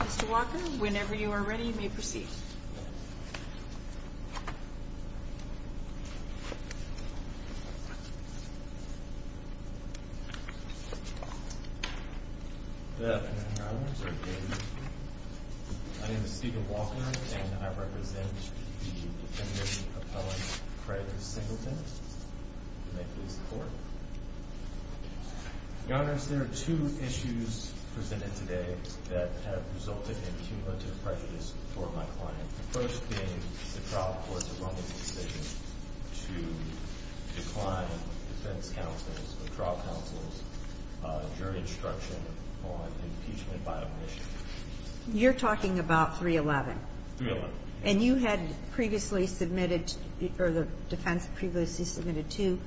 Mr. Walker, whenever you are ready, you may proceed. Mr. Walker, may I be the first? You're talking about 311 and you had previously submitted or the defense previously submitted to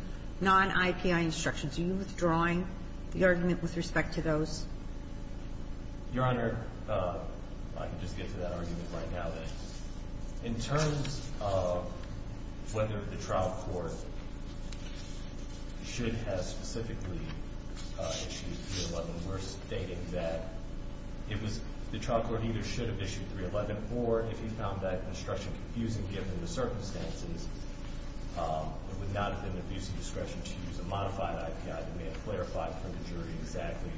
non-IPI instructions. Are you withdrawing the argument with respect to those? Your Honor, I can just get to that argument right now. In terms of whether the trial court should have specifically issued 311, we're stating that it was, the trial court either should have issued 311 or if you found that instruction confusing given the circumstances, it would not have been an abuse of power. That's exactly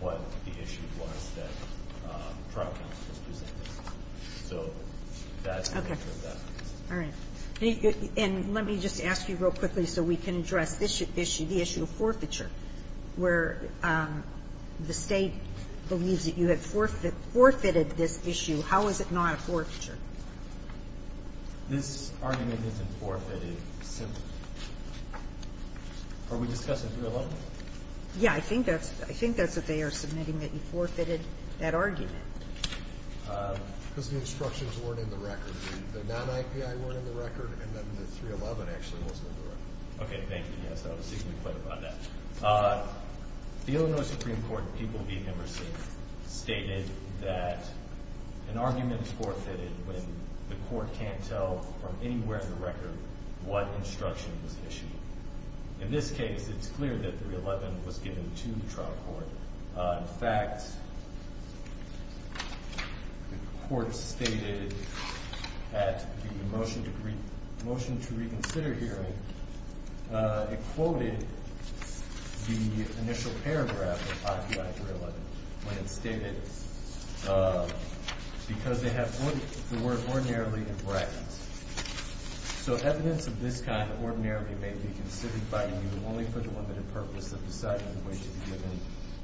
what the issue was that the trial court was using. So that's what that means. And let me just ask you real quickly so we can address this issue, the issue of forfeiture. Where the State believes that you have forfeited this issue, how is it not a forfeiture? This argument isn't forfeited simply. Are we discussing 311? Yeah, I think that's what they are submitting, that you forfeited that argument. Because the instructions weren't in the record. The non-IPI weren't in the record, and then the 311 actually wasn't in the record. Okay, thank you. Yes, I was thinking quite about that. The Illinois Supreme Court people we've never seen stated that an argument is forfeited when the court can't tell from anywhere in the record what instruction was issued. In this case, it's clear that 311 was given to the trial court. In fact, the court stated at the motion to reconsider hearing, it quoted the initial paragraph of IPI 311 when it stated, because they have the word ordinarily in brackets. So evidence of this kind ordinarily may be considered by you only for the limited purpose of deciding the way to be given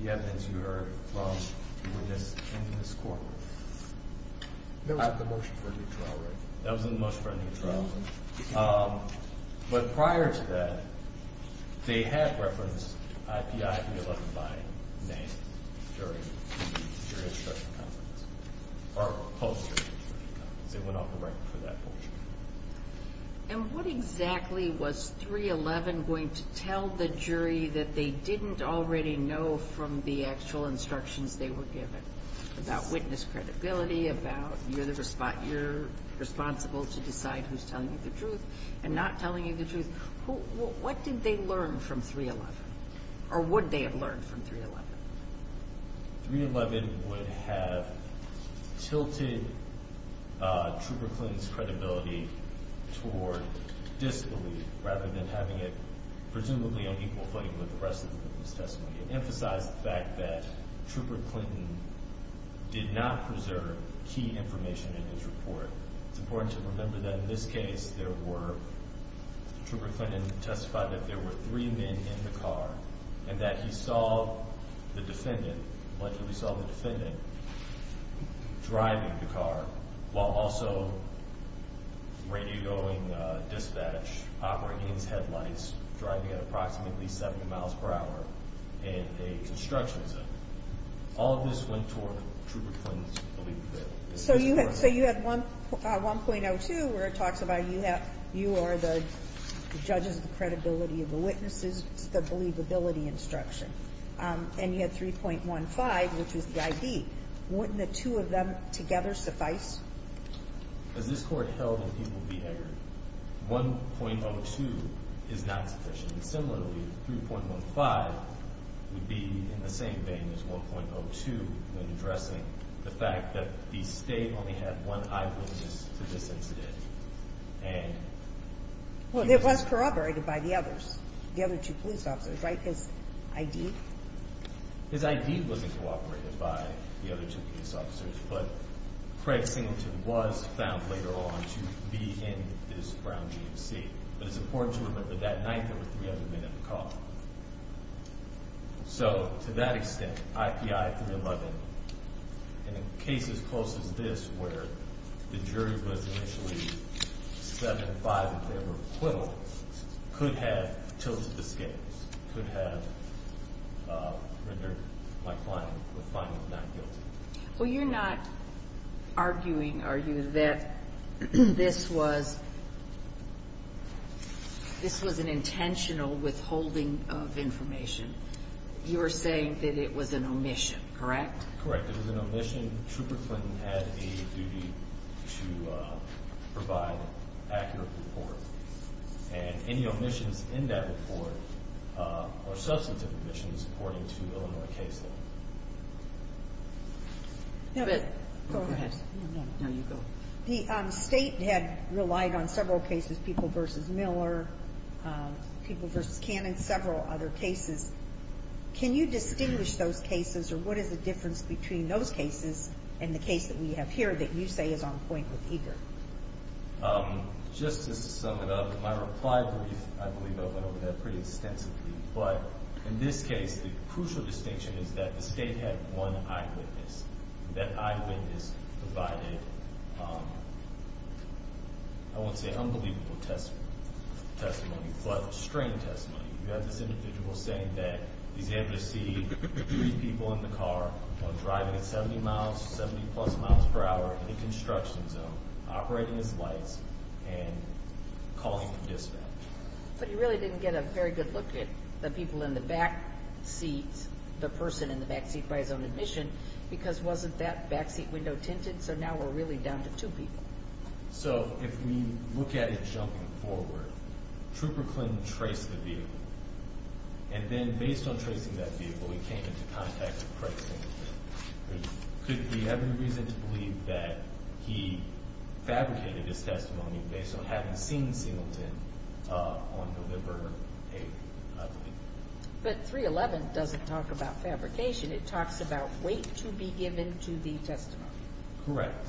the evidence you heard from the witness in this court. That was in the motion for a new trial record. That was in the motion for a new trial record. But prior to that, they had referenced IPI 311 by name during the jury instruction conference. And what exactly was 311 going to tell the jury that they didn't already know from the actual instructions they were given about witness credibility, about you're responsible to decide who's telling you the truth and not telling you the truth? What did they learn from 311? Or would they have learned from 311? 311 would have tilted Trooper Clinton's credibility toward disbelief rather than having it presumably on equal footing with the rest of the witness testimony. It emphasized the fact that Trooper Clinton did not preserve key information in his report. It's important to remember that in this case, Trooper Clinton testified that there were three men in the car and that he saw the defendant, luckily saw the defendant, driving the car while also radioing dispatch, operating his headlights, driving at approximately 70 miles per hour. He was driving in a construction zone. All of this went toward Trooper Clinton's believability. So you had 1.02 where it talks about you are the judges of the credibility of the witnesses, the believability instruction. And you had 3.15, which was the ID. Wouldn't the two of them together suffice? As this court held in People v. Eggert, 1.02 is not sufficient. Similarly, 3.15 would be in the same vein as 1.02 when addressing the fact that the state only had one eyewitness to this incident. Well, it was corroborated by the others, the other two police officers, right? His ID? His ID wasn't corroborated by the other two police officers, but Craig Singleton was found later on to be in this Brown GMC. But it's important to remember that that night there were three other men in the car. So to that extent, IPI 3.11, in a case as close as this where the jury was initially 7-5 in favor of Quill, could have tilted the scales, could have rendered my client not guilty. Well, you're not arguing, are you, that this was an intentional withholding of information? You're saying that it was an omission, correct? Correct. It was an omission. Trooper Clinton had a duty to provide an accurate report. And any omissions in that report are substantive omissions according to Illinois case law. The state had relied on several cases, People v. Miller, People v. Cannon, several other cases. Can you distinguish those cases, or what is the difference between those cases and the case that we have here that you say is on point with Eager? Just to sum it up, my reply brief, I believe I went over that pretty extensively. But in this case, the crucial distinction is that the state had one eyewitness. That eyewitness provided, I won't say unbelievable testimony, but strange testimony. We have this individual saying that he's able to see three people in the car, driving at 70 miles, 70 plus miles per hour, in a construction zone, operating his lights, and calling the dispatch. But he really didn't get a very good look at the people in the back seats, the person in the back seat by his own admission, because wasn't that back seat window tinted? So now we're really down to two people. So if we look at it jumping forward, Trooper Clinton traced the vehicle, and then based on tracing that vehicle, he came into contact with Craig Singleton. Could we have any reason to believe that he fabricated his testimony based on having seen Singleton on November 8th? But 311 doesn't talk about fabrication. It talks about wait to be given to the testimony. Correct.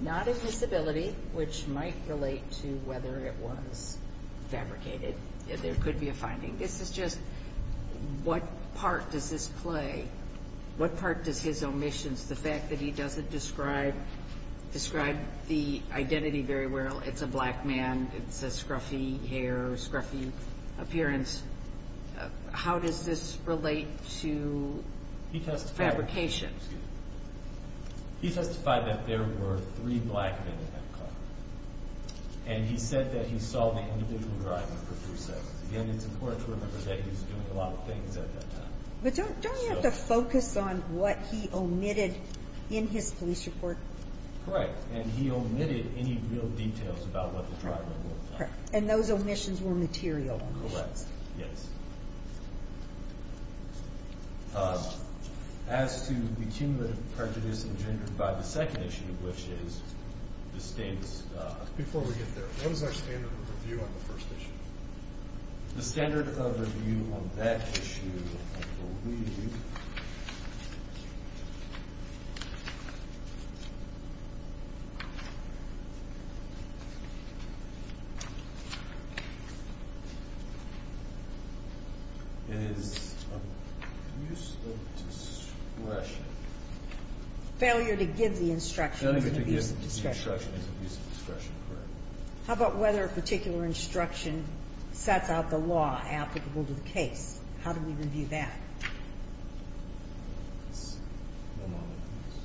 Not admissibility, which might relate to whether it was fabricated. There could be a finding. This is just, what part does this play? What part does his omissions, the fact that he doesn't describe the identity very well, it's a black man, it's a scruffy hair, scruffy appearance. How does this relate to fabrication? He testified that there were three black men in that car. And he said that he saw the individual driving for three seconds. Again, it's important to remember that he was doing a lot of things at that time. But don't you have to focus on what he omitted in his police report? Correct. And he omitted any real details about what the driver looked like. And those omissions were material omissions. Yes. As to the cumulative prejudice engendered by the second issue, which is the state's... Before we get there, what is our standard of review on the first issue? The standard of review on that issue, I believe, is abuse of discretion. Failure to give the instruction is an abuse of discretion. Failure to give the instruction is an abuse of discretion, correct. How about whether a particular instruction sets out the law applicable to the case? How do we review that? One moment, please.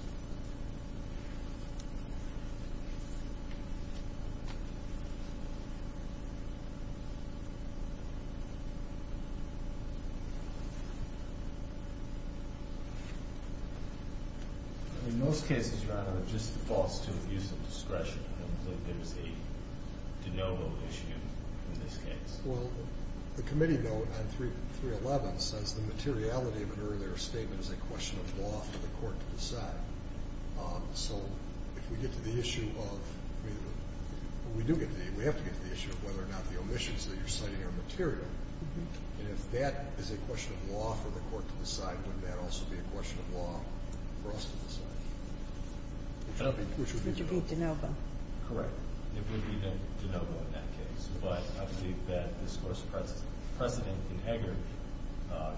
In most cases, your honor, it just defaults to abuse of discretion. There's a de novo issue in this case. Well, the committee note on 311 says the materiality of an earlier statement is a question of law for the court to decide. So if we get to the issue of... We have to get to the issue of whether or not the omissions that you're citing are material. And if that is a question of law for the court to decide, wouldn't that also be a question of law for us to decide? It would be de novo. Correct. It would be de novo in that case. But I believe that this Court's precedent in Haggard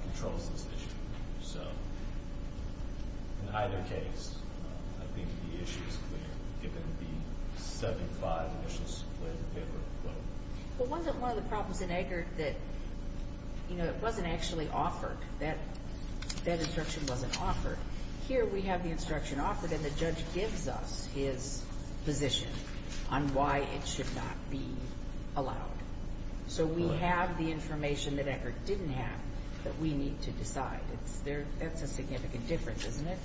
controls this issue. So in either case, I think the issue is clear, given the 75 omissions that were given. But wasn't one of the problems in Haggard that, you know, it wasn't actually offered? That instruction wasn't offered. Here we have the instruction offered, and the judge gives us his position on why it should not be allowed. So we have the information that Haggard didn't have that we need to decide. That's a significant difference, isn't it?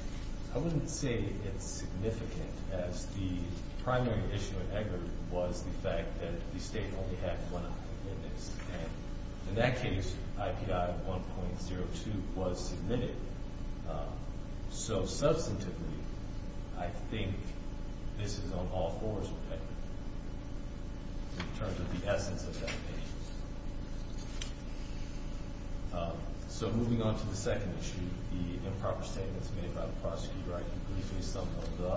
I wouldn't say it's significant, as the primary issue in Haggard was the fact that the State only had one option in this. And in that case, IPI 1.02 was submitted. So substantively, I think this is on all fours with Haggard, in terms of the essence of that case. So moving on to the second issue, the improper statements made by the prosecutor. I do believe they summed them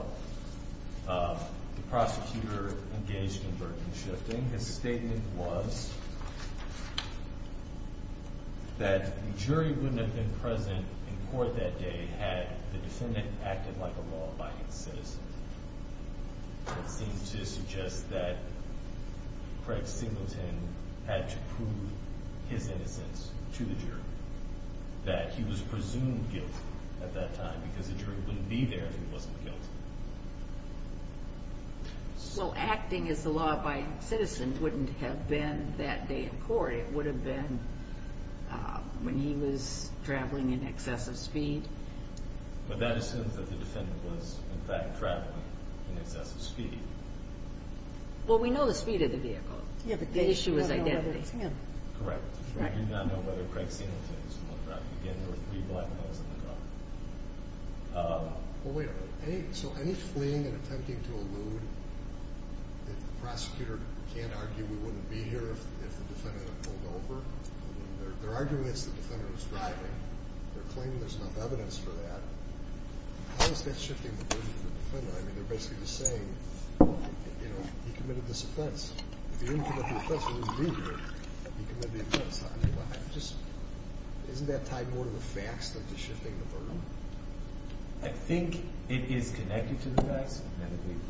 up. The prosecutor engaged in burden shifting. His statement was that the jury wouldn't have been present in court that day had the defendant acted like a law-abiding citizen. It seems to suggest that Craig Singleton had to prove his innocence to the jury, that he was presumed guilty at that time, because the jury wouldn't be there if he wasn't guilty. So acting as a law-abiding citizen wouldn't have been that day in court. It would have been when he was traveling in excessive speed. But that assumes that the defendant was, in fact, traveling in excessive speed. Well, we know the speed of the vehicle. The issue is identity. Correct. We do not know whether Craig Singleton is the one driving. Again, there were three black males in the car. Well, wait a minute. So any fleeing and attempting to elude that the prosecutor can't argue we wouldn't be here if the defendant had pulled over? There are arguments the defendant was driving. They're claiming there's enough evidence for that. How is that shifting the burden to the defendant? I mean, they're basically just saying, you know, he committed this offense. If he didn't commit the offense, he wouldn't be here. He committed the offense. Isn't that tied more to the facts than to shifting the burden? I think it is connected to the facts.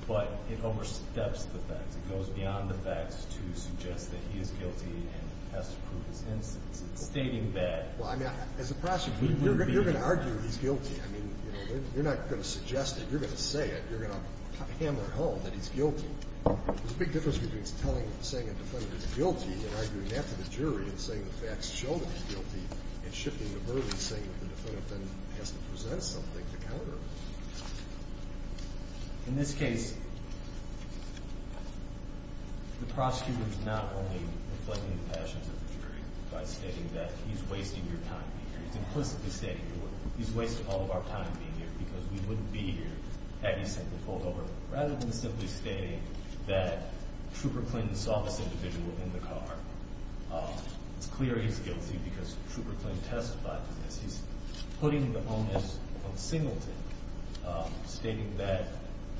But it oversteps the facts. It goes beyond the facts to suggest that he is guilty and has to prove his innocence. It's stating that we wouldn't be here. Well, I mean, as a prosecutor, you're going to argue he's guilty. I mean, you're not going to suggest it. You're going to say it. You're going to hammer it home that he's guilty. There's a big difference between saying a defendant is guilty and arguing that to the jury and saying the facts show that he's guilty and shifting the burden, saying that the defendant has to present something to counter. In this case, the prosecutor is not only reflecting the passions of the jury by stating that he's wasting your time being here. He's implicitly stating he's wasting all of our time being here because we wouldn't be here had he simply pulled over. Rather than simply stating that Trooper Clinton saw this individual in the car, it's clear he's guilty because Trooper Clinton testified to this. He's putting the onus on Singleton, stating that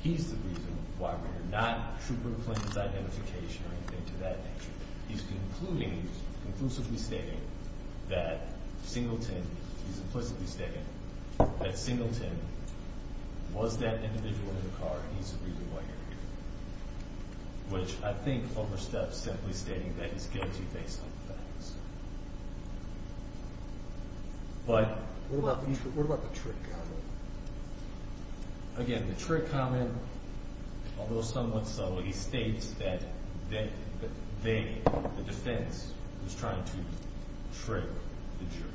he's the reason why we're here, not Trooper Clinton's identification or anything to that nature. He's concluding, conclusively stating that Singleton, he's implicitly stating that Singleton was that individual in the car. He's the reason why you're here, which I think oversteps simply stating that he's guilty based on the facts. But... What about the trick comment? Again, the trick comment, although somewhat subtle, he states that the defense was trying to trick the jury.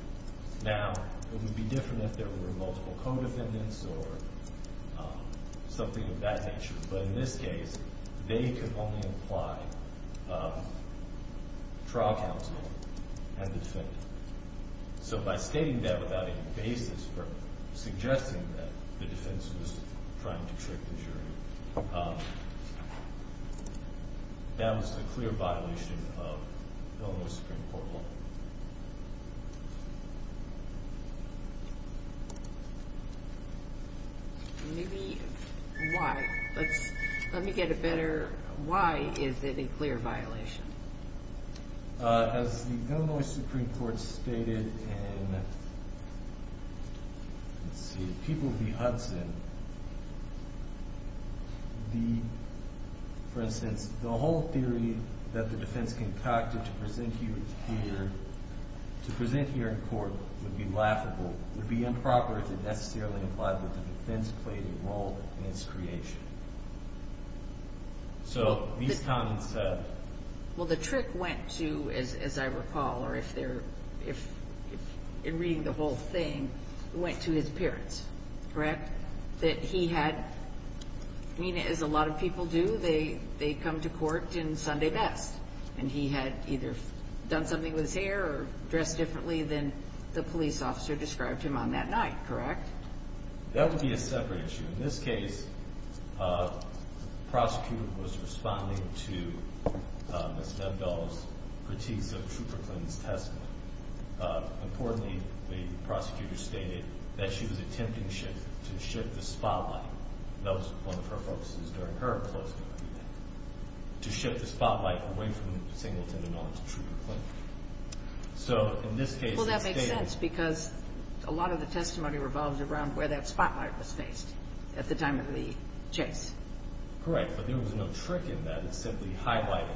Now, it would be different if there were multiple co-defendants or something of that nature. But in this case, they could only imply trial counsel and the defendant. So by stating that without any basis for suggesting that the defense was trying to trick the jury, that was a clear violation of Illinois Supreme Court law. Maybe... Why? Let's... Let me get a better... Why is it a clear violation? As the Illinois Supreme Court stated in... Let's see. People v. Hudson. The... For instance, the whole theory that the defense concocted to present you here, to present here in court, would be laughable, would be improper to necessarily imply that the defense played a role in its creation. So these comments said... Well, the trick went to, as I recall, or if they're... In reading the whole thing, it went to his parents. Correct? That he had... I mean, as a lot of people do, they come to court in Sunday best. And he had either done something with his hair or dressed differently than the police officer described him on that night. Correct? That would be a separate issue. In this case, the prosecutor was responding to Ms. Nebdal's critiques of Trooper Clinton's testimony. Importantly, the prosecutor stated that she was attempting to shift the spotlight. That was one of her focuses during her closing argument. To shift the spotlight away from Singleton in order to Trooper Clinton. So in this case... Well, that makes sense because a lot of the testimony revolves around where that spotlight was faced at the time of the chase. Correct, but there was no trick in that. It's simply highlighting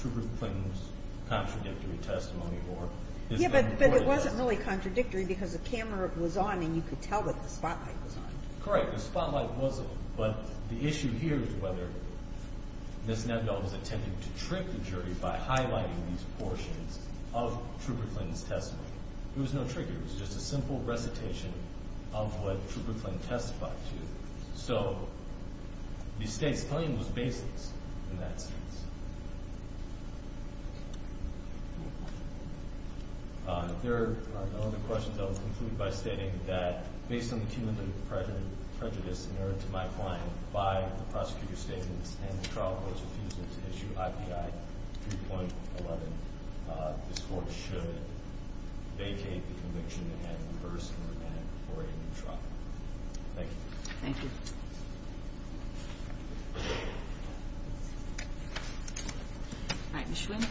Trooper Clinton's contradictory testimony or his... Yeah, but it wasn't really contradictory because the camera was on and you could tell that the spotlight was on. Correct, the spotlight wasn't. But the issue here is whether Ms. Nebdal was attempting to trick the jury by highlighting these portions of Trooper Clinton's testimony. It was no trick, it was just a simple recitation of what Trooper Clinton testified to. So the state's claim was baseless in that sense. If there are no other questions, I will conclude by stating that based on the cumulative prejudice in my client by the prosecutor's statements and the trial court's refusal to issue IPI 3.11, this court should vacate the conviction and reverse and remand it before a new trial. Thank you. Thank you. All right, Ms. Schwinn.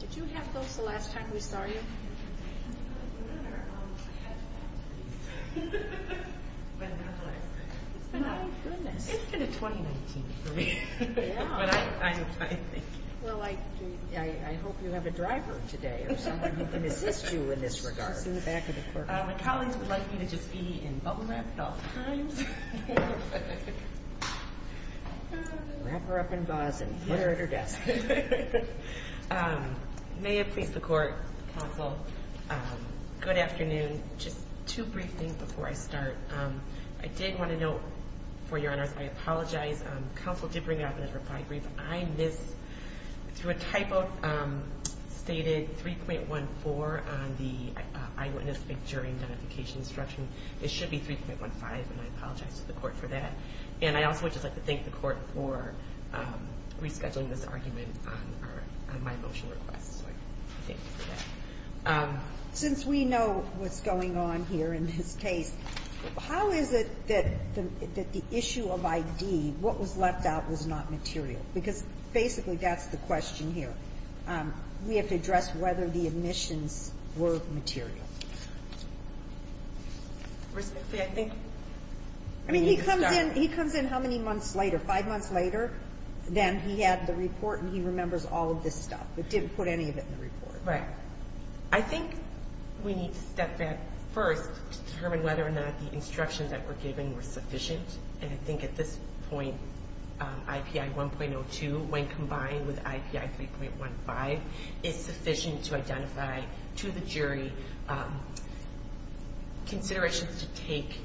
Did you have those the last time we saw you? I remember. I had that. When was it? It's been a... My goodness. It's been a 2019 for me. Yeah. But I think... Well, I hope you have a driver today or someone who can assist you in this regard. My colleagues would like me to just be in bubble wrap at all times. Wrap her up in gauze and put her at her desk. May it please the court, counsel, good afternoon. Just two brief things before I start. I did want to note, for your honors, I apologize. Counsel did bring it up in his reply brief. I missed, through a typo, stated 3.14 on the eyewitness jury identification instruction. It should be 3.15, and I apologize to the court for that. And I also would just like to thank the court for rescheduling this argument on my motion request. So I thank you for that. Since we know what's going on here in this case, how is it that the issue of ID, what was left out, was not material? Because basically that's the question here. We have to address whether the admissions were material. I mean, he comes in how many months later? Five months later, then he had the report and he remembers all of this stuff, but didn't put any of it in the report. Right. I think we need to step back first to determine whether or not the instructions that were given were sufficient. And I think at this point, IPI 1.02, when combined with IPI 3.15, is sufficient to identify to the jury considerations to take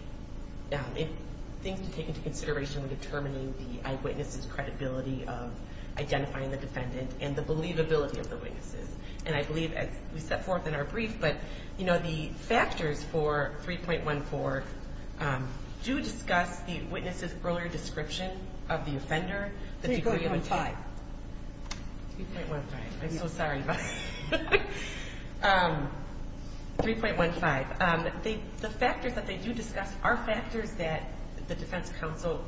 into consideration when determining the eyewitness's credibility of identifying the defendant and the believability of the witnesses. And I believe, as we set forth in our brief, but the factors for 3.14 do discuss the witness's earlier description of the offender. 3.15. 3.15. I'm so sorry about that. 3.15. The factors that they do discuss are factors that the defense counsel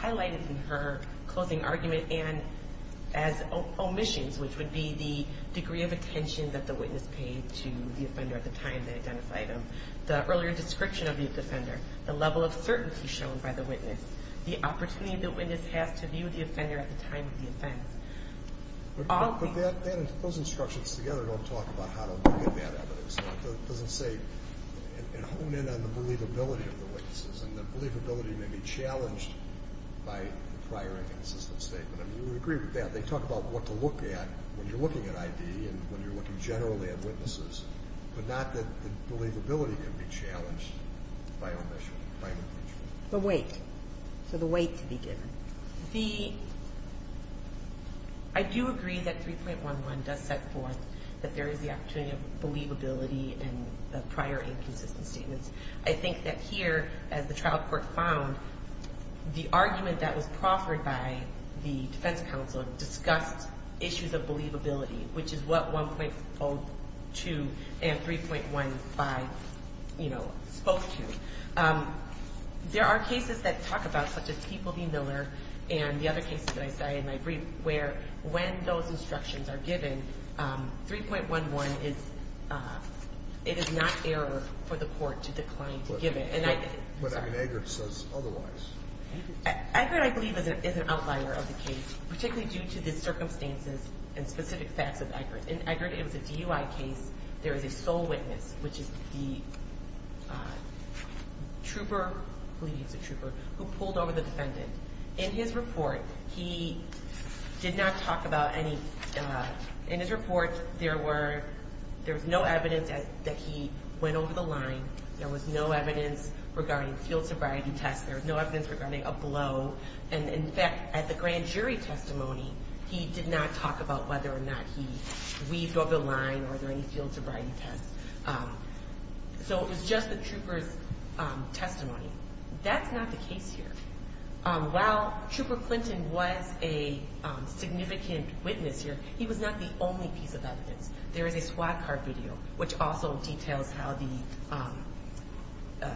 highlighted in her closing argument and as omissions, which would be the degree of attention that the witness paid to the offender at the time they identified him, the earlier description of the offender, the level of certainty shown by the witness, the opportunity the witness has to view the offender at the time of the offense. Those instructions together don't talk about how to look at that evidence. So it doesn't say and hone in on the believability of the witnesses and the believability may be challenged by the prior inconsistent statement. I mean, we would agree with that. They talk about what to look at when you're looking at ID and when you're looking generally at witnesses, but not that the believability can be challenged by omission, by omission. The weight. So the weight to be given. The, I do agree that 3.11 does set forth that there is the opportunity of believability and prior inconsistent statements. I think that here, as the trial court found, the argument that was proffered by the defense counsel discussed issues of believability, which is what 1.02 and 3.15, you know, spoke to. There are cases that talk about, such as People v. Miller and the other cases that I cited in my brief, where when those instructions are given, 3.11 is, it is not error for the court to decline to give it. But I mean, Eggert says otherwise. Eggert, I believe, is an outlier of the case, particularly due to the circumstances and specific facts of Eggert. In Eggert, it was a DUI case. There is a sole witness, which is the trooper, I believe he's a trooper, who pulled over the defendant. In his report, he did not talk about any, in his report, there were, there was no evidence that he went over the line. There was no evidence regarding field sobriety tests. There was no evidence regarding a blow. And, in fact, at the grand jury testimony, he did not talk about whether or not he weaved over the line or there were any field sobriety tests. So it was just the trooper's testimony. That's not the case here. While Trooper Clinton was a significant witness here, he was not the only piece of evidence. There is a SWAT card video, which also details how the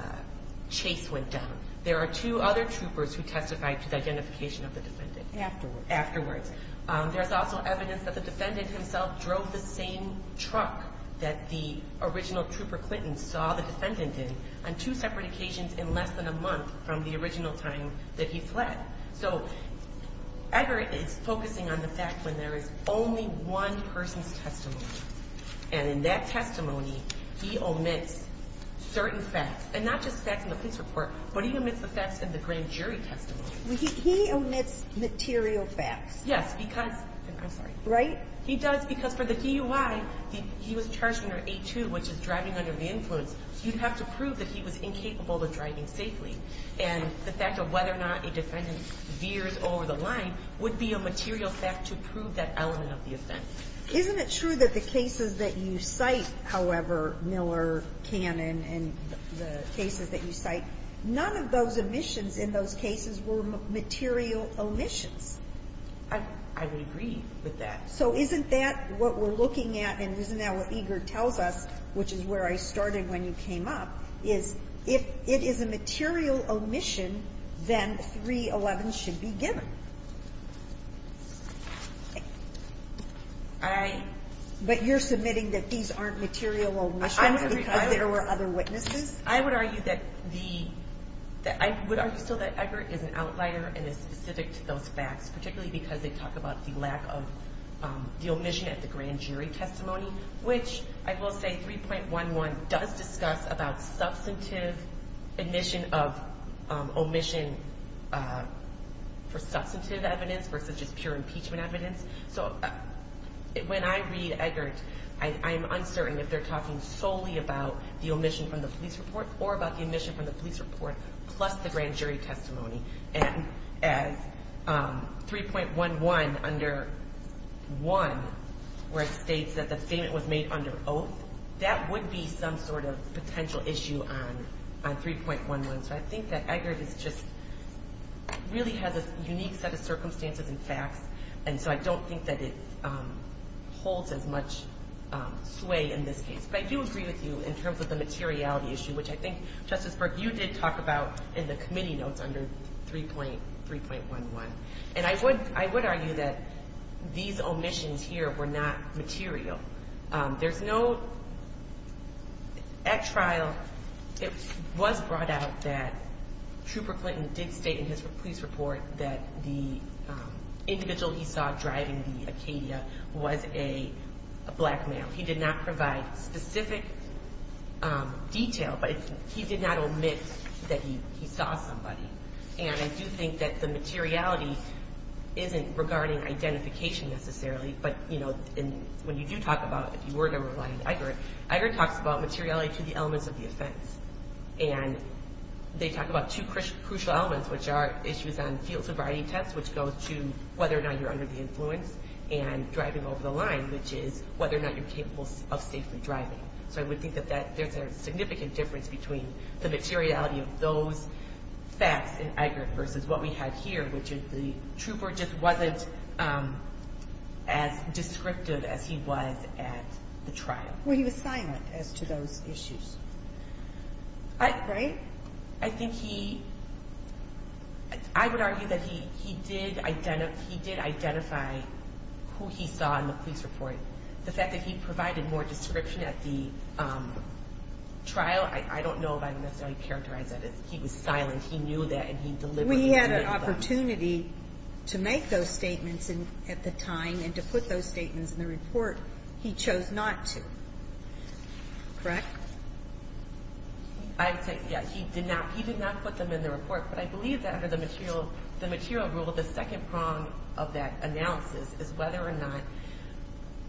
chase went down. There are two other troopers who testified to the identification of the defendant. Afterwards. Afterwards. There's also evidence that the defendant himself drove the same truck that the original Trooper Clinton saw the defendant in on two separate occasions in less than a month from the original time that he fled. So Eggert is focusing on the fact when there is only one person's testimony. And in that testimony, he omits certain facts. And not just facts in the police report, but he omits the facts in the grand jury testimony. He omits material facts. Yes. Because, I'm sorry. Right? He does because for the DUI, he was charged under A2, which is driving under the influence. You'd have to prove that he was incapable of driving safely. And the fact of whether or not a defendant veers over the line would be a material fact to prove that element of the offense. Isn't it true that the cases that you cite, however, Miller, Cannon, and the cases that you cite, none of those omissions in those cases were material omissions? I would agree with that. So isn't that what we're looking at, and isn't that what Eggert tells us, which is where I started when you came up, is if it is a material omission, then 311 should be given. But you're submitting that these aren't material omissions because there were other witnesses? I would argue that the – I would argue still that Eggert is an outlier and is specific to those facts, particularly because they talk about the lack of the omission at the grand jury testimony, which I will say 3.11 does discuss about substantive omission for substantive evidence versus just pure impeachment evidence. So when I read Eggert, I am uncertain if they're talking solely about the omission from the police report or about the omission from the police report plus the grand jury testimony. And as 3.11 under 1, where it states that the statement was made under oath, that would be some sort of potential issue on 3.11. So I think that Eggert is just – really has a unique set of circumstances and facts, and so I don't think that it holds as much sway in this case. But I do agree with you in terms of the materiality issue, which I think, Justice Berg, you did talk about in the committee notes under 3.11. And I would argue that these omissions here were not material. There's no – at trial, it was brought out that Trooper Clinton did state in his police report that the individual he saw driving the Acadia was a black male. He did not provide specific detail, but he did not omit that he saw somebody. And I do think that the materiality isn't regarding identification necessarily. But, you know, when you do talk about – if you were to rely on Eggert, Eggert talks about materiality to the elements of the offense. And they talk about two crucial elements, which are issues on field sobriety tests, which go to whether or not you're under the influence and driving over the line, which is whether or not you're capable of safely driving. So I would think that there's a significant difference between the materiality of those facts in Eggert versus what we have here, which is the Trooper just wasn't as descriptive as he was at the trial. Well, he was silent as to those issues, right? I think he – I would argue that he did identify who he saw in the police report. The fact that he provided more description at the trial, I don't know if I would necessarily characterize that as he was silent. He knew that, and he delivered. We had an opportunity to make those statements at the time and to put those statements in the report. He chose not to, correct? I would say, yeah, he did not put them in the report. But I believe that under the material rule, the second prong of that analysis is whether or not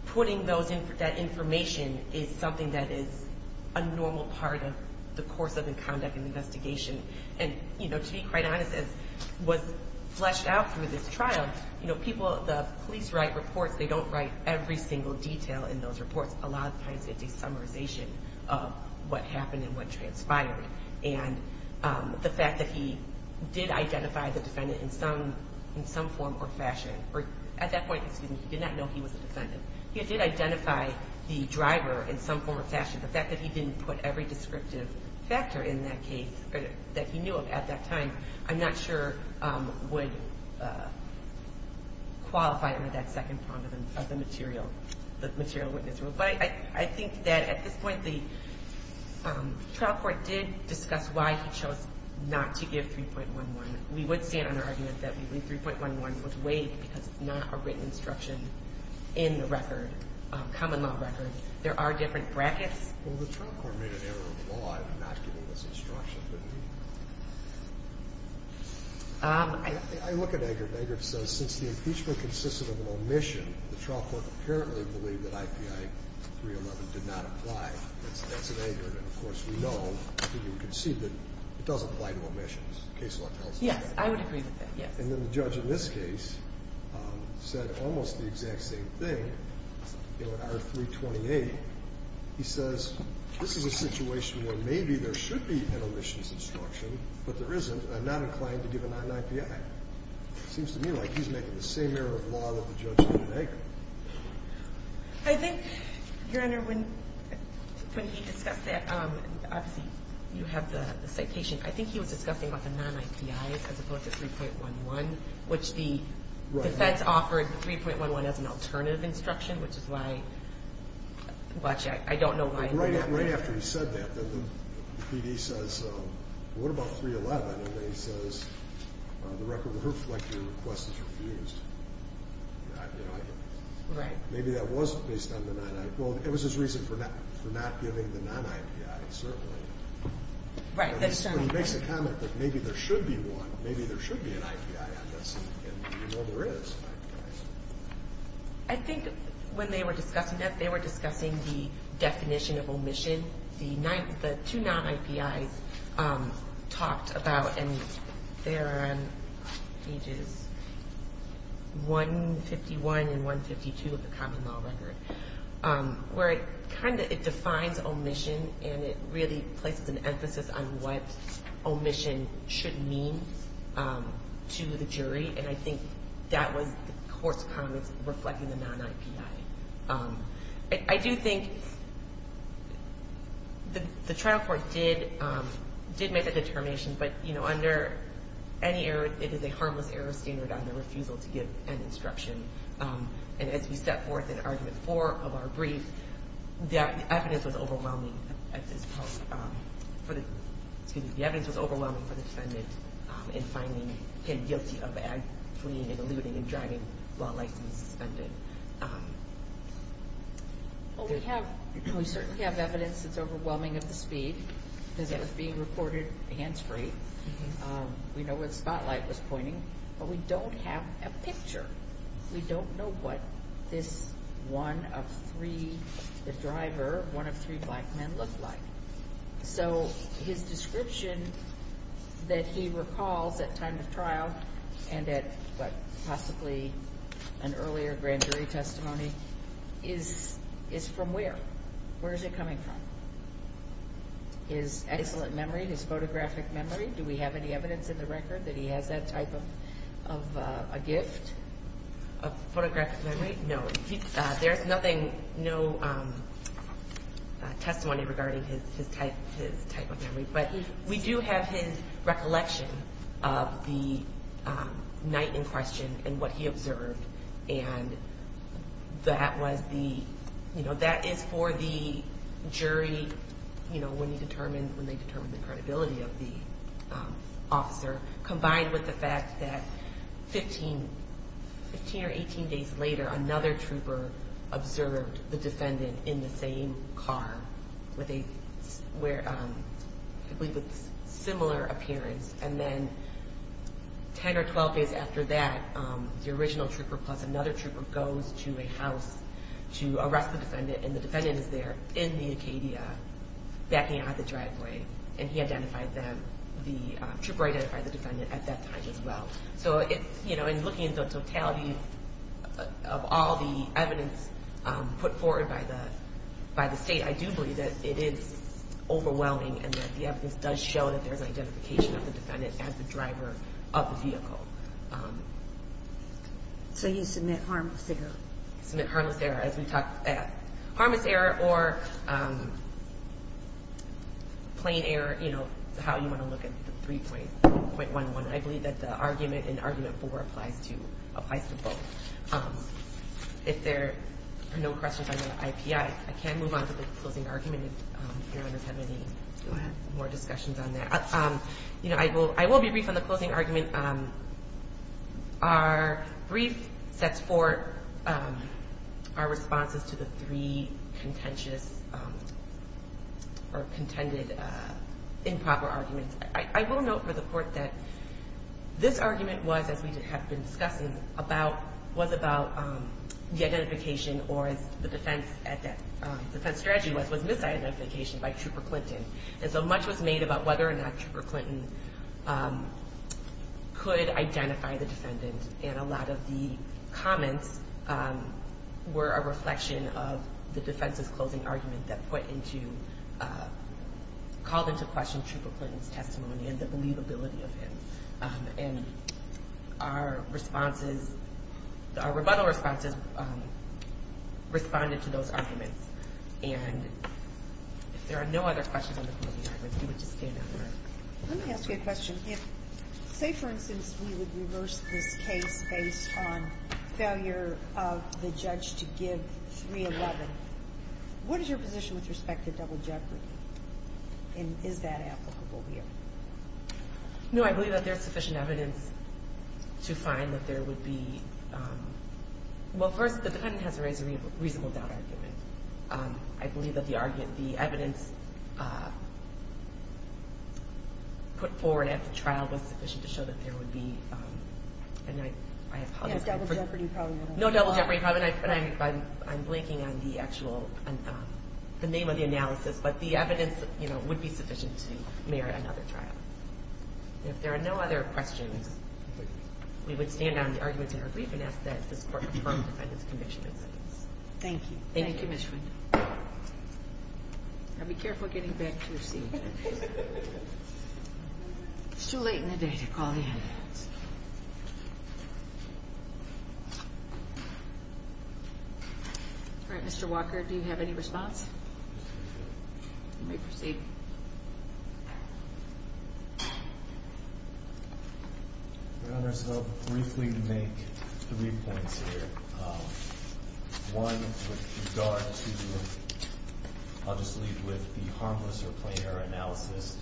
putting that information is something that is a normal part of the course of the conduct and investigation. And to be quite honest, as was fleshed out through this trial, the police write reports. They don't write every single detail in those reports. A lot of times it's a summarization of what happened and what transpired. And the fact that he did identify the defendant in some form or fashion, or at that point, excuse me, he did not know he was a defendant. He did identify the driver in some form or fashion. The fact that he didn't put every descriptive factor in that case that he knew of at that time, I'm not sure would qualify under that second prong of the material witness rule. But I think that at this point the trial court did discuss why he chose not to give 3.11. We would stand on our argument that 3.11 was waived because it's not a written instruction in the record, common law record. There are different brackets. Well, the trial court made an error of the law in not giving this instruction, didn't he? I look at it. You know, the appeal case is an angered anger. It says since the impeachment consist of an omission, the trial court apparently believed that IPI 3.11 did not apply. That's an anger. And of course we know that you can see that it does apply to omissions, case law tells us. Yes, I would agree with that, yes. And then the judge in this case said almost the exact same thing. In R. 328, he says this is a situation where maybe there should be an omissions instruction, but there isn't, and I'm not inclined to give a non-IPI. It seems to me like he's making the same error of law that the judge did in Agra. I think, Your Honor, when he discussed that, obviously you have the citation. I think he was discussing about the non-IPIs as opposed to 3.11, which the defense offered 3.11 as an alternative instruction, which is why I don't know why. Right after he said that, the PD says, what about 3.11? And then he says, the record reflects your request is refused. Maybe that was based on the non-IPI. Well, it was his reason for not giving the non-IPI, certainly. But he makes the comment that maybe there should be one, maybe there should be an IPI on this, and, you know, there is. I think when they were discussing that, they were discussing the definition of omission. The two non-IPIs talked about, and they're on pages 151 and 152 of the common law record, where it kind of defines omission, and it really places an emphasis on what omission should mean to the jury, and I think that was the court's comments reflecting the non-IPI. I do think the trial court did make that determination, but, you know, under any error, it is a harmless error standard on the refusal to give an instruction. And as we set forth in Argument 4 of our brief, the evidence was overwhelming at this point. Excuse me. The evidence was overwhelming for the defendant in finding him guilty of fleeing and eluding and driving while licensed and suspended. Well, we certainly have evidence that's overwhelming of the speed because it was being reported hands-free. We know where the spotlight was pointing, but we don't have a picture. We don't know what this one of three, the driver, one of three black men looked like. So his description that he recalls at time of trial and at possibly an earlier grand jury testimony is from where? Where is it coming from? His excellent memory, his photographic memory? Do we have any evidence in the record that he has that type of a gift? A photographic memory? No. There's nothing, no testimony regarding his type of memory. But we do have his recollection of the night in question and what he observed. And that was the, you know, that is for the jury, you know, when they determine the credibility of the officer, combined with the fact that 15 or 18 days later another trooper observed the defendant in the same car with a similar appearance. And then 10 or 12 days after that, the original trooper plus another trooper goes to a house to arrest the defendant, and the defendant is there in the Acadia backing out of the driveway, and he identified them, the trooper identified the defendant at that time as well. So, you know, in looking at the totality of all the evidence put forward by the state, I do believe that it is overwhelming and that the evidence does show that there's an identification of the defendant as the driver of the vehicle. So you submit harmless error? Submit harmless error, as we talked at. Harmless error or plain error, you know, is how you want to look at the 3.11. I believe that the argument in Argument 4 applies to both. If there are no questions on the IP, I can move on to the closing argument if Your Honor has had any more discussions on that. You know, I will be brief on the closing argument. Our brief sets forth our responses to the three contentious or contended improper arguments. I will note for the Court that this argument was, as we have been discussing, was about the identification or, as the defense strategy was, was misidentification by Trooper Clinton. And so much was made about whether or not Trooper Clinton could identify the defendant. And a lot of the comments were a reflection of the defense's closing argument that called into question Trooper Clinton's testimony and the believability of him. And our responses, our rebuttal responses, responded to those arguments. And if there are no other questions on the closing argument, we would just stand adjourned. Let me ask you a question. If, say, for instance, we would reverse this case based on failure of the judge to give 311, what is your position with respect to double jeopardy? And is that applicable here? No, I believe that there is sufficient evidence to find that there would be – Well, first, the defendant has raised a reasonable doubt argument. I believe that the argument, the evidence put forward at the trial, was sufficient to show that there would be – Yes, double jeopardy probably would apply. No double jeopardy. I'm blanking on the actual name of the analysis, but the evidence would be sufficient to merit another trial. If there are no other questions, we would stand on the arguments in our brief and ask that this court confirm the defendant's conviction. Thank you. Thank you, Ms. Quinn. Now be careful getting back to your seat. It's too late in the day to call the ambulance. All right, Mr. Walker, do you have any response? You may proceed. Your Honors, I'll briefly make three points here. One with regard to – I'll just leave with the harmless or plain error analysis.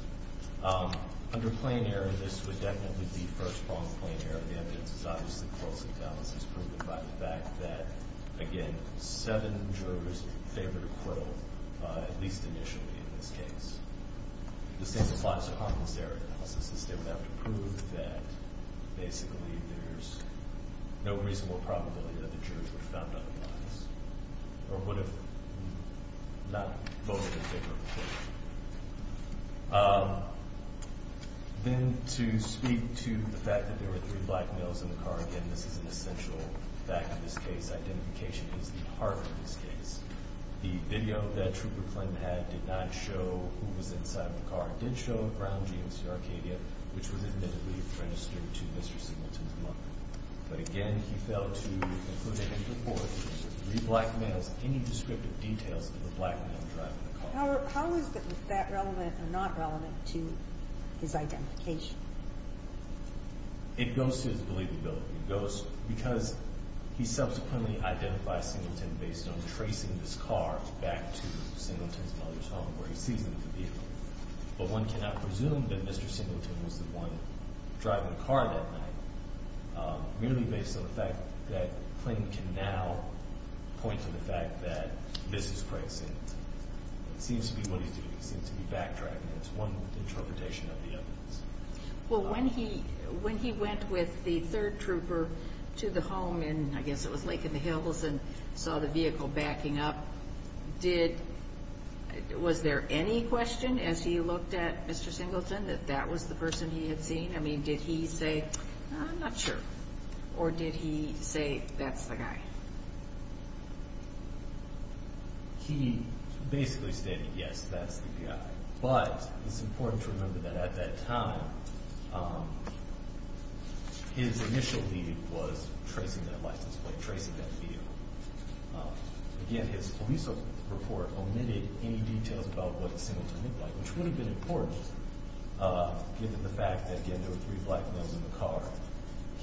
Under plain error, this would definitely be first-pronged plain error. The evidence is obviously closely balanced. It's proven by the fact that, again, seven jurors favored acquittal, at least initially in this case. The same applies to harmless error analysis. They would have to prove that basically there's no reasonable probability that the jurors would have found otherwise or would have not voted in favor of acquittal. Then to speak to the fact that there were three black males in the car. Again, this is an essential fact of this case. Identification is the heart of this case. The video that Trooper Clinton had did not show who was inside the car. It did show a brown jeans to Arcadia, which was admittedly registered to Mr. Singleton's mother. But again, he failed to include in his report three black males, any descriptive details of the black male driving the car. So how is that relevant or not relevant to his identification? It goes to his believability. It goes because he subsequently identified Singleton based on tracing this car back to Singleton's mother's home where he sees him in the vehicle. But one cannot presume that Mr. Singleton was the one driving the car that night, merely based on the fact that Clinton can now point to the fact that this is Craig Singleton. It seems to be what he's doing. It seems to be backtracking. It's one interpretation of the evidence. Well, when he went with the third trooper to the home in, I guess it was Lake in the Hills, and saw the vehicle backing up, was there any question as he looked at Mr. Singleton that that was the person he had seen? I mean, did he say, I'm not sure? Or did he say, that's the guy? He basically said, yes, that's the guy. But it's important to remember that at that time his initial lead was tracing that license plate, tracing that vehicle. Again, his police report omitted any details about what Singleton looked like, which would have been important given the fact that, again, there were three black males in the car.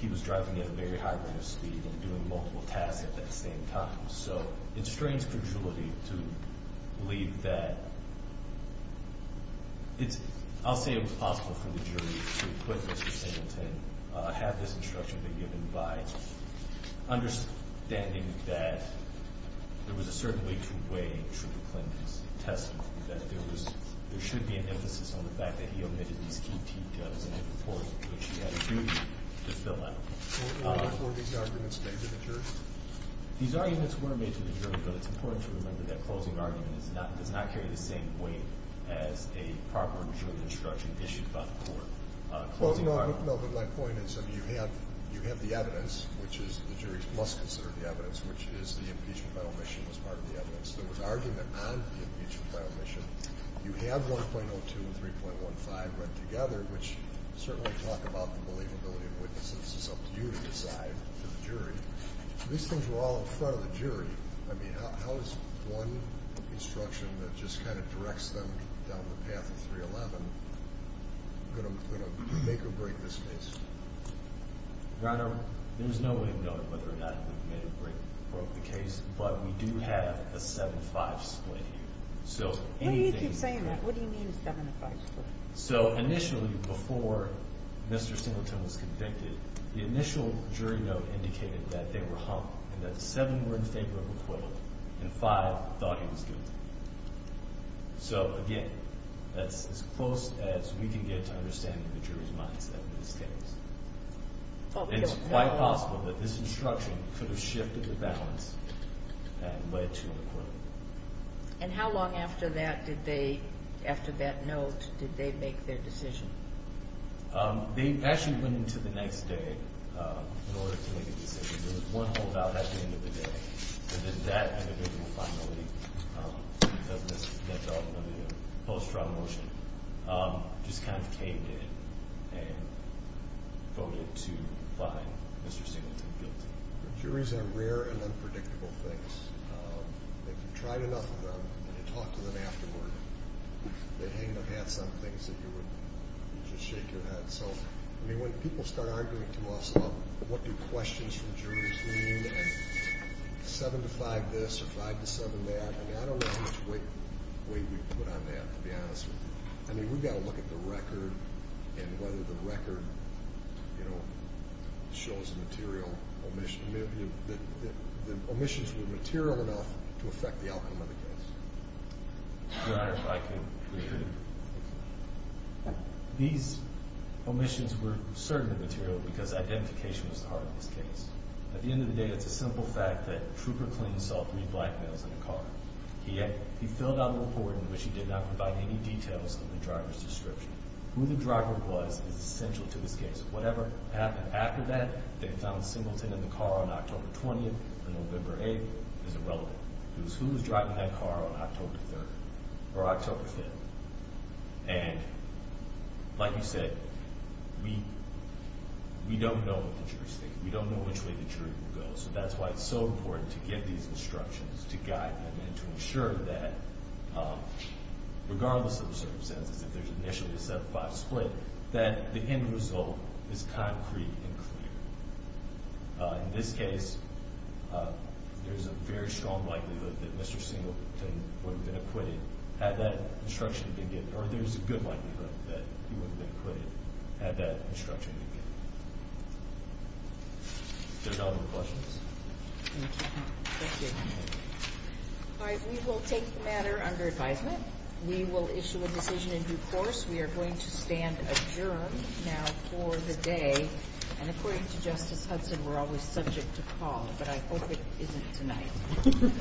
He was driving at a very high rate of speed and doing multiple tasks at that same time. So it strains credulity to believe that it's – I'll say it was possible for the jury to acquit Mr. Singleton, have this instruction be given by understanding that there was a certain way to weigh Trooper Clinton's testimony, that there was – there should be an emphasis on the fact that he omitted these key details in his report, which he had a duty to fill out. Were these arguments made to the jury? These arguments were made to the jury, but it's important to remember that closing argument does not carry the same weight as a proper jury instruction issued by the court. Closing argument – Well, no, but my point is, I mean, you have the evidence, which is the jury must consider the evidence, which is the impeachment final mission was part of the evidence. There was argument on the impeachment final mission. You have 1.02 and 3.15 read together, which certainly talk about the believability of witnesses. It's up to you to decide for the jury. These things were all in front of the jury. I mean, how is one instruction that just kind of directs them down the path of 311 going to make or break this case? Your Honor, there's no way of knowing whether or not it made or broke the case, but we do have a 7-5 split here. Well, you keep saying that. What do you mean a 7-5 split? So, initially, before Mr. Singleton was convicted, the initial jury note indicated that they were humped and that seven were in favor of acquittal and five thought he was guilty. So, again, that's as close as we can get to understanding the jury's minds at this case. And it's quite possible that this instruction could have shifted the balance and led to an acquittal. And how long after that did they, after that note, did they make their decision? They actually went into the next day in order to make a decision. There was one holdout at the end of the day. And then that individual finally, because of the post-trial motion, just kind of came in and voted to find Mr. Singleton guilty. Juries are rare and unpredictable things. If you've tried enough of them and you talk to them afterward, they hang their hats on things that you would just shake your head. So, I mean, when people start arguing to us about what do questions from juries mean and 7-5 this or 5-7 that, I mean, I don't know which way you would put on that, to be honest with you. I mean, we've got to look at the record and whether the record, you know, shows a material omission. The omissions were material enough to affect the outcome of the case. Your Honor, if I could. These omissions were certainly material because identification was the heart of this case. At the end of the day, it's a simple fact that Trooper Clean saw three black males in a car. He filled out a report in which he did not provide any details of the driver's description. Who the driver was is essential to this case. Whatever happened after that, they found Singleton in the car on October 20th and November 8th is irrelevant. It was who was driving that car on October 3rd or October 5th. And like you said, we don't know what the jury's thinking. We don't know which way the jury will go. So that's why it's so important to get these instructions to guide them and to ensure that regardless of the circumstances, if there's initially a 7-5 split, that the end result is concrete and clear. In this case, there's a very strong likelihood that Mr. Singleton would have been acquitted had that instruction been given, or there's a good likelihood that he would have been acquitted had that instruction been given. If there's no other questions. Thank you. Thank you. All right. We will take the matter under advisement. We will issue a decision in due course. We are going to stand adjourned now for the day. And according to Justice Hudson, we're always subject to call, but I hope it isn't tonight.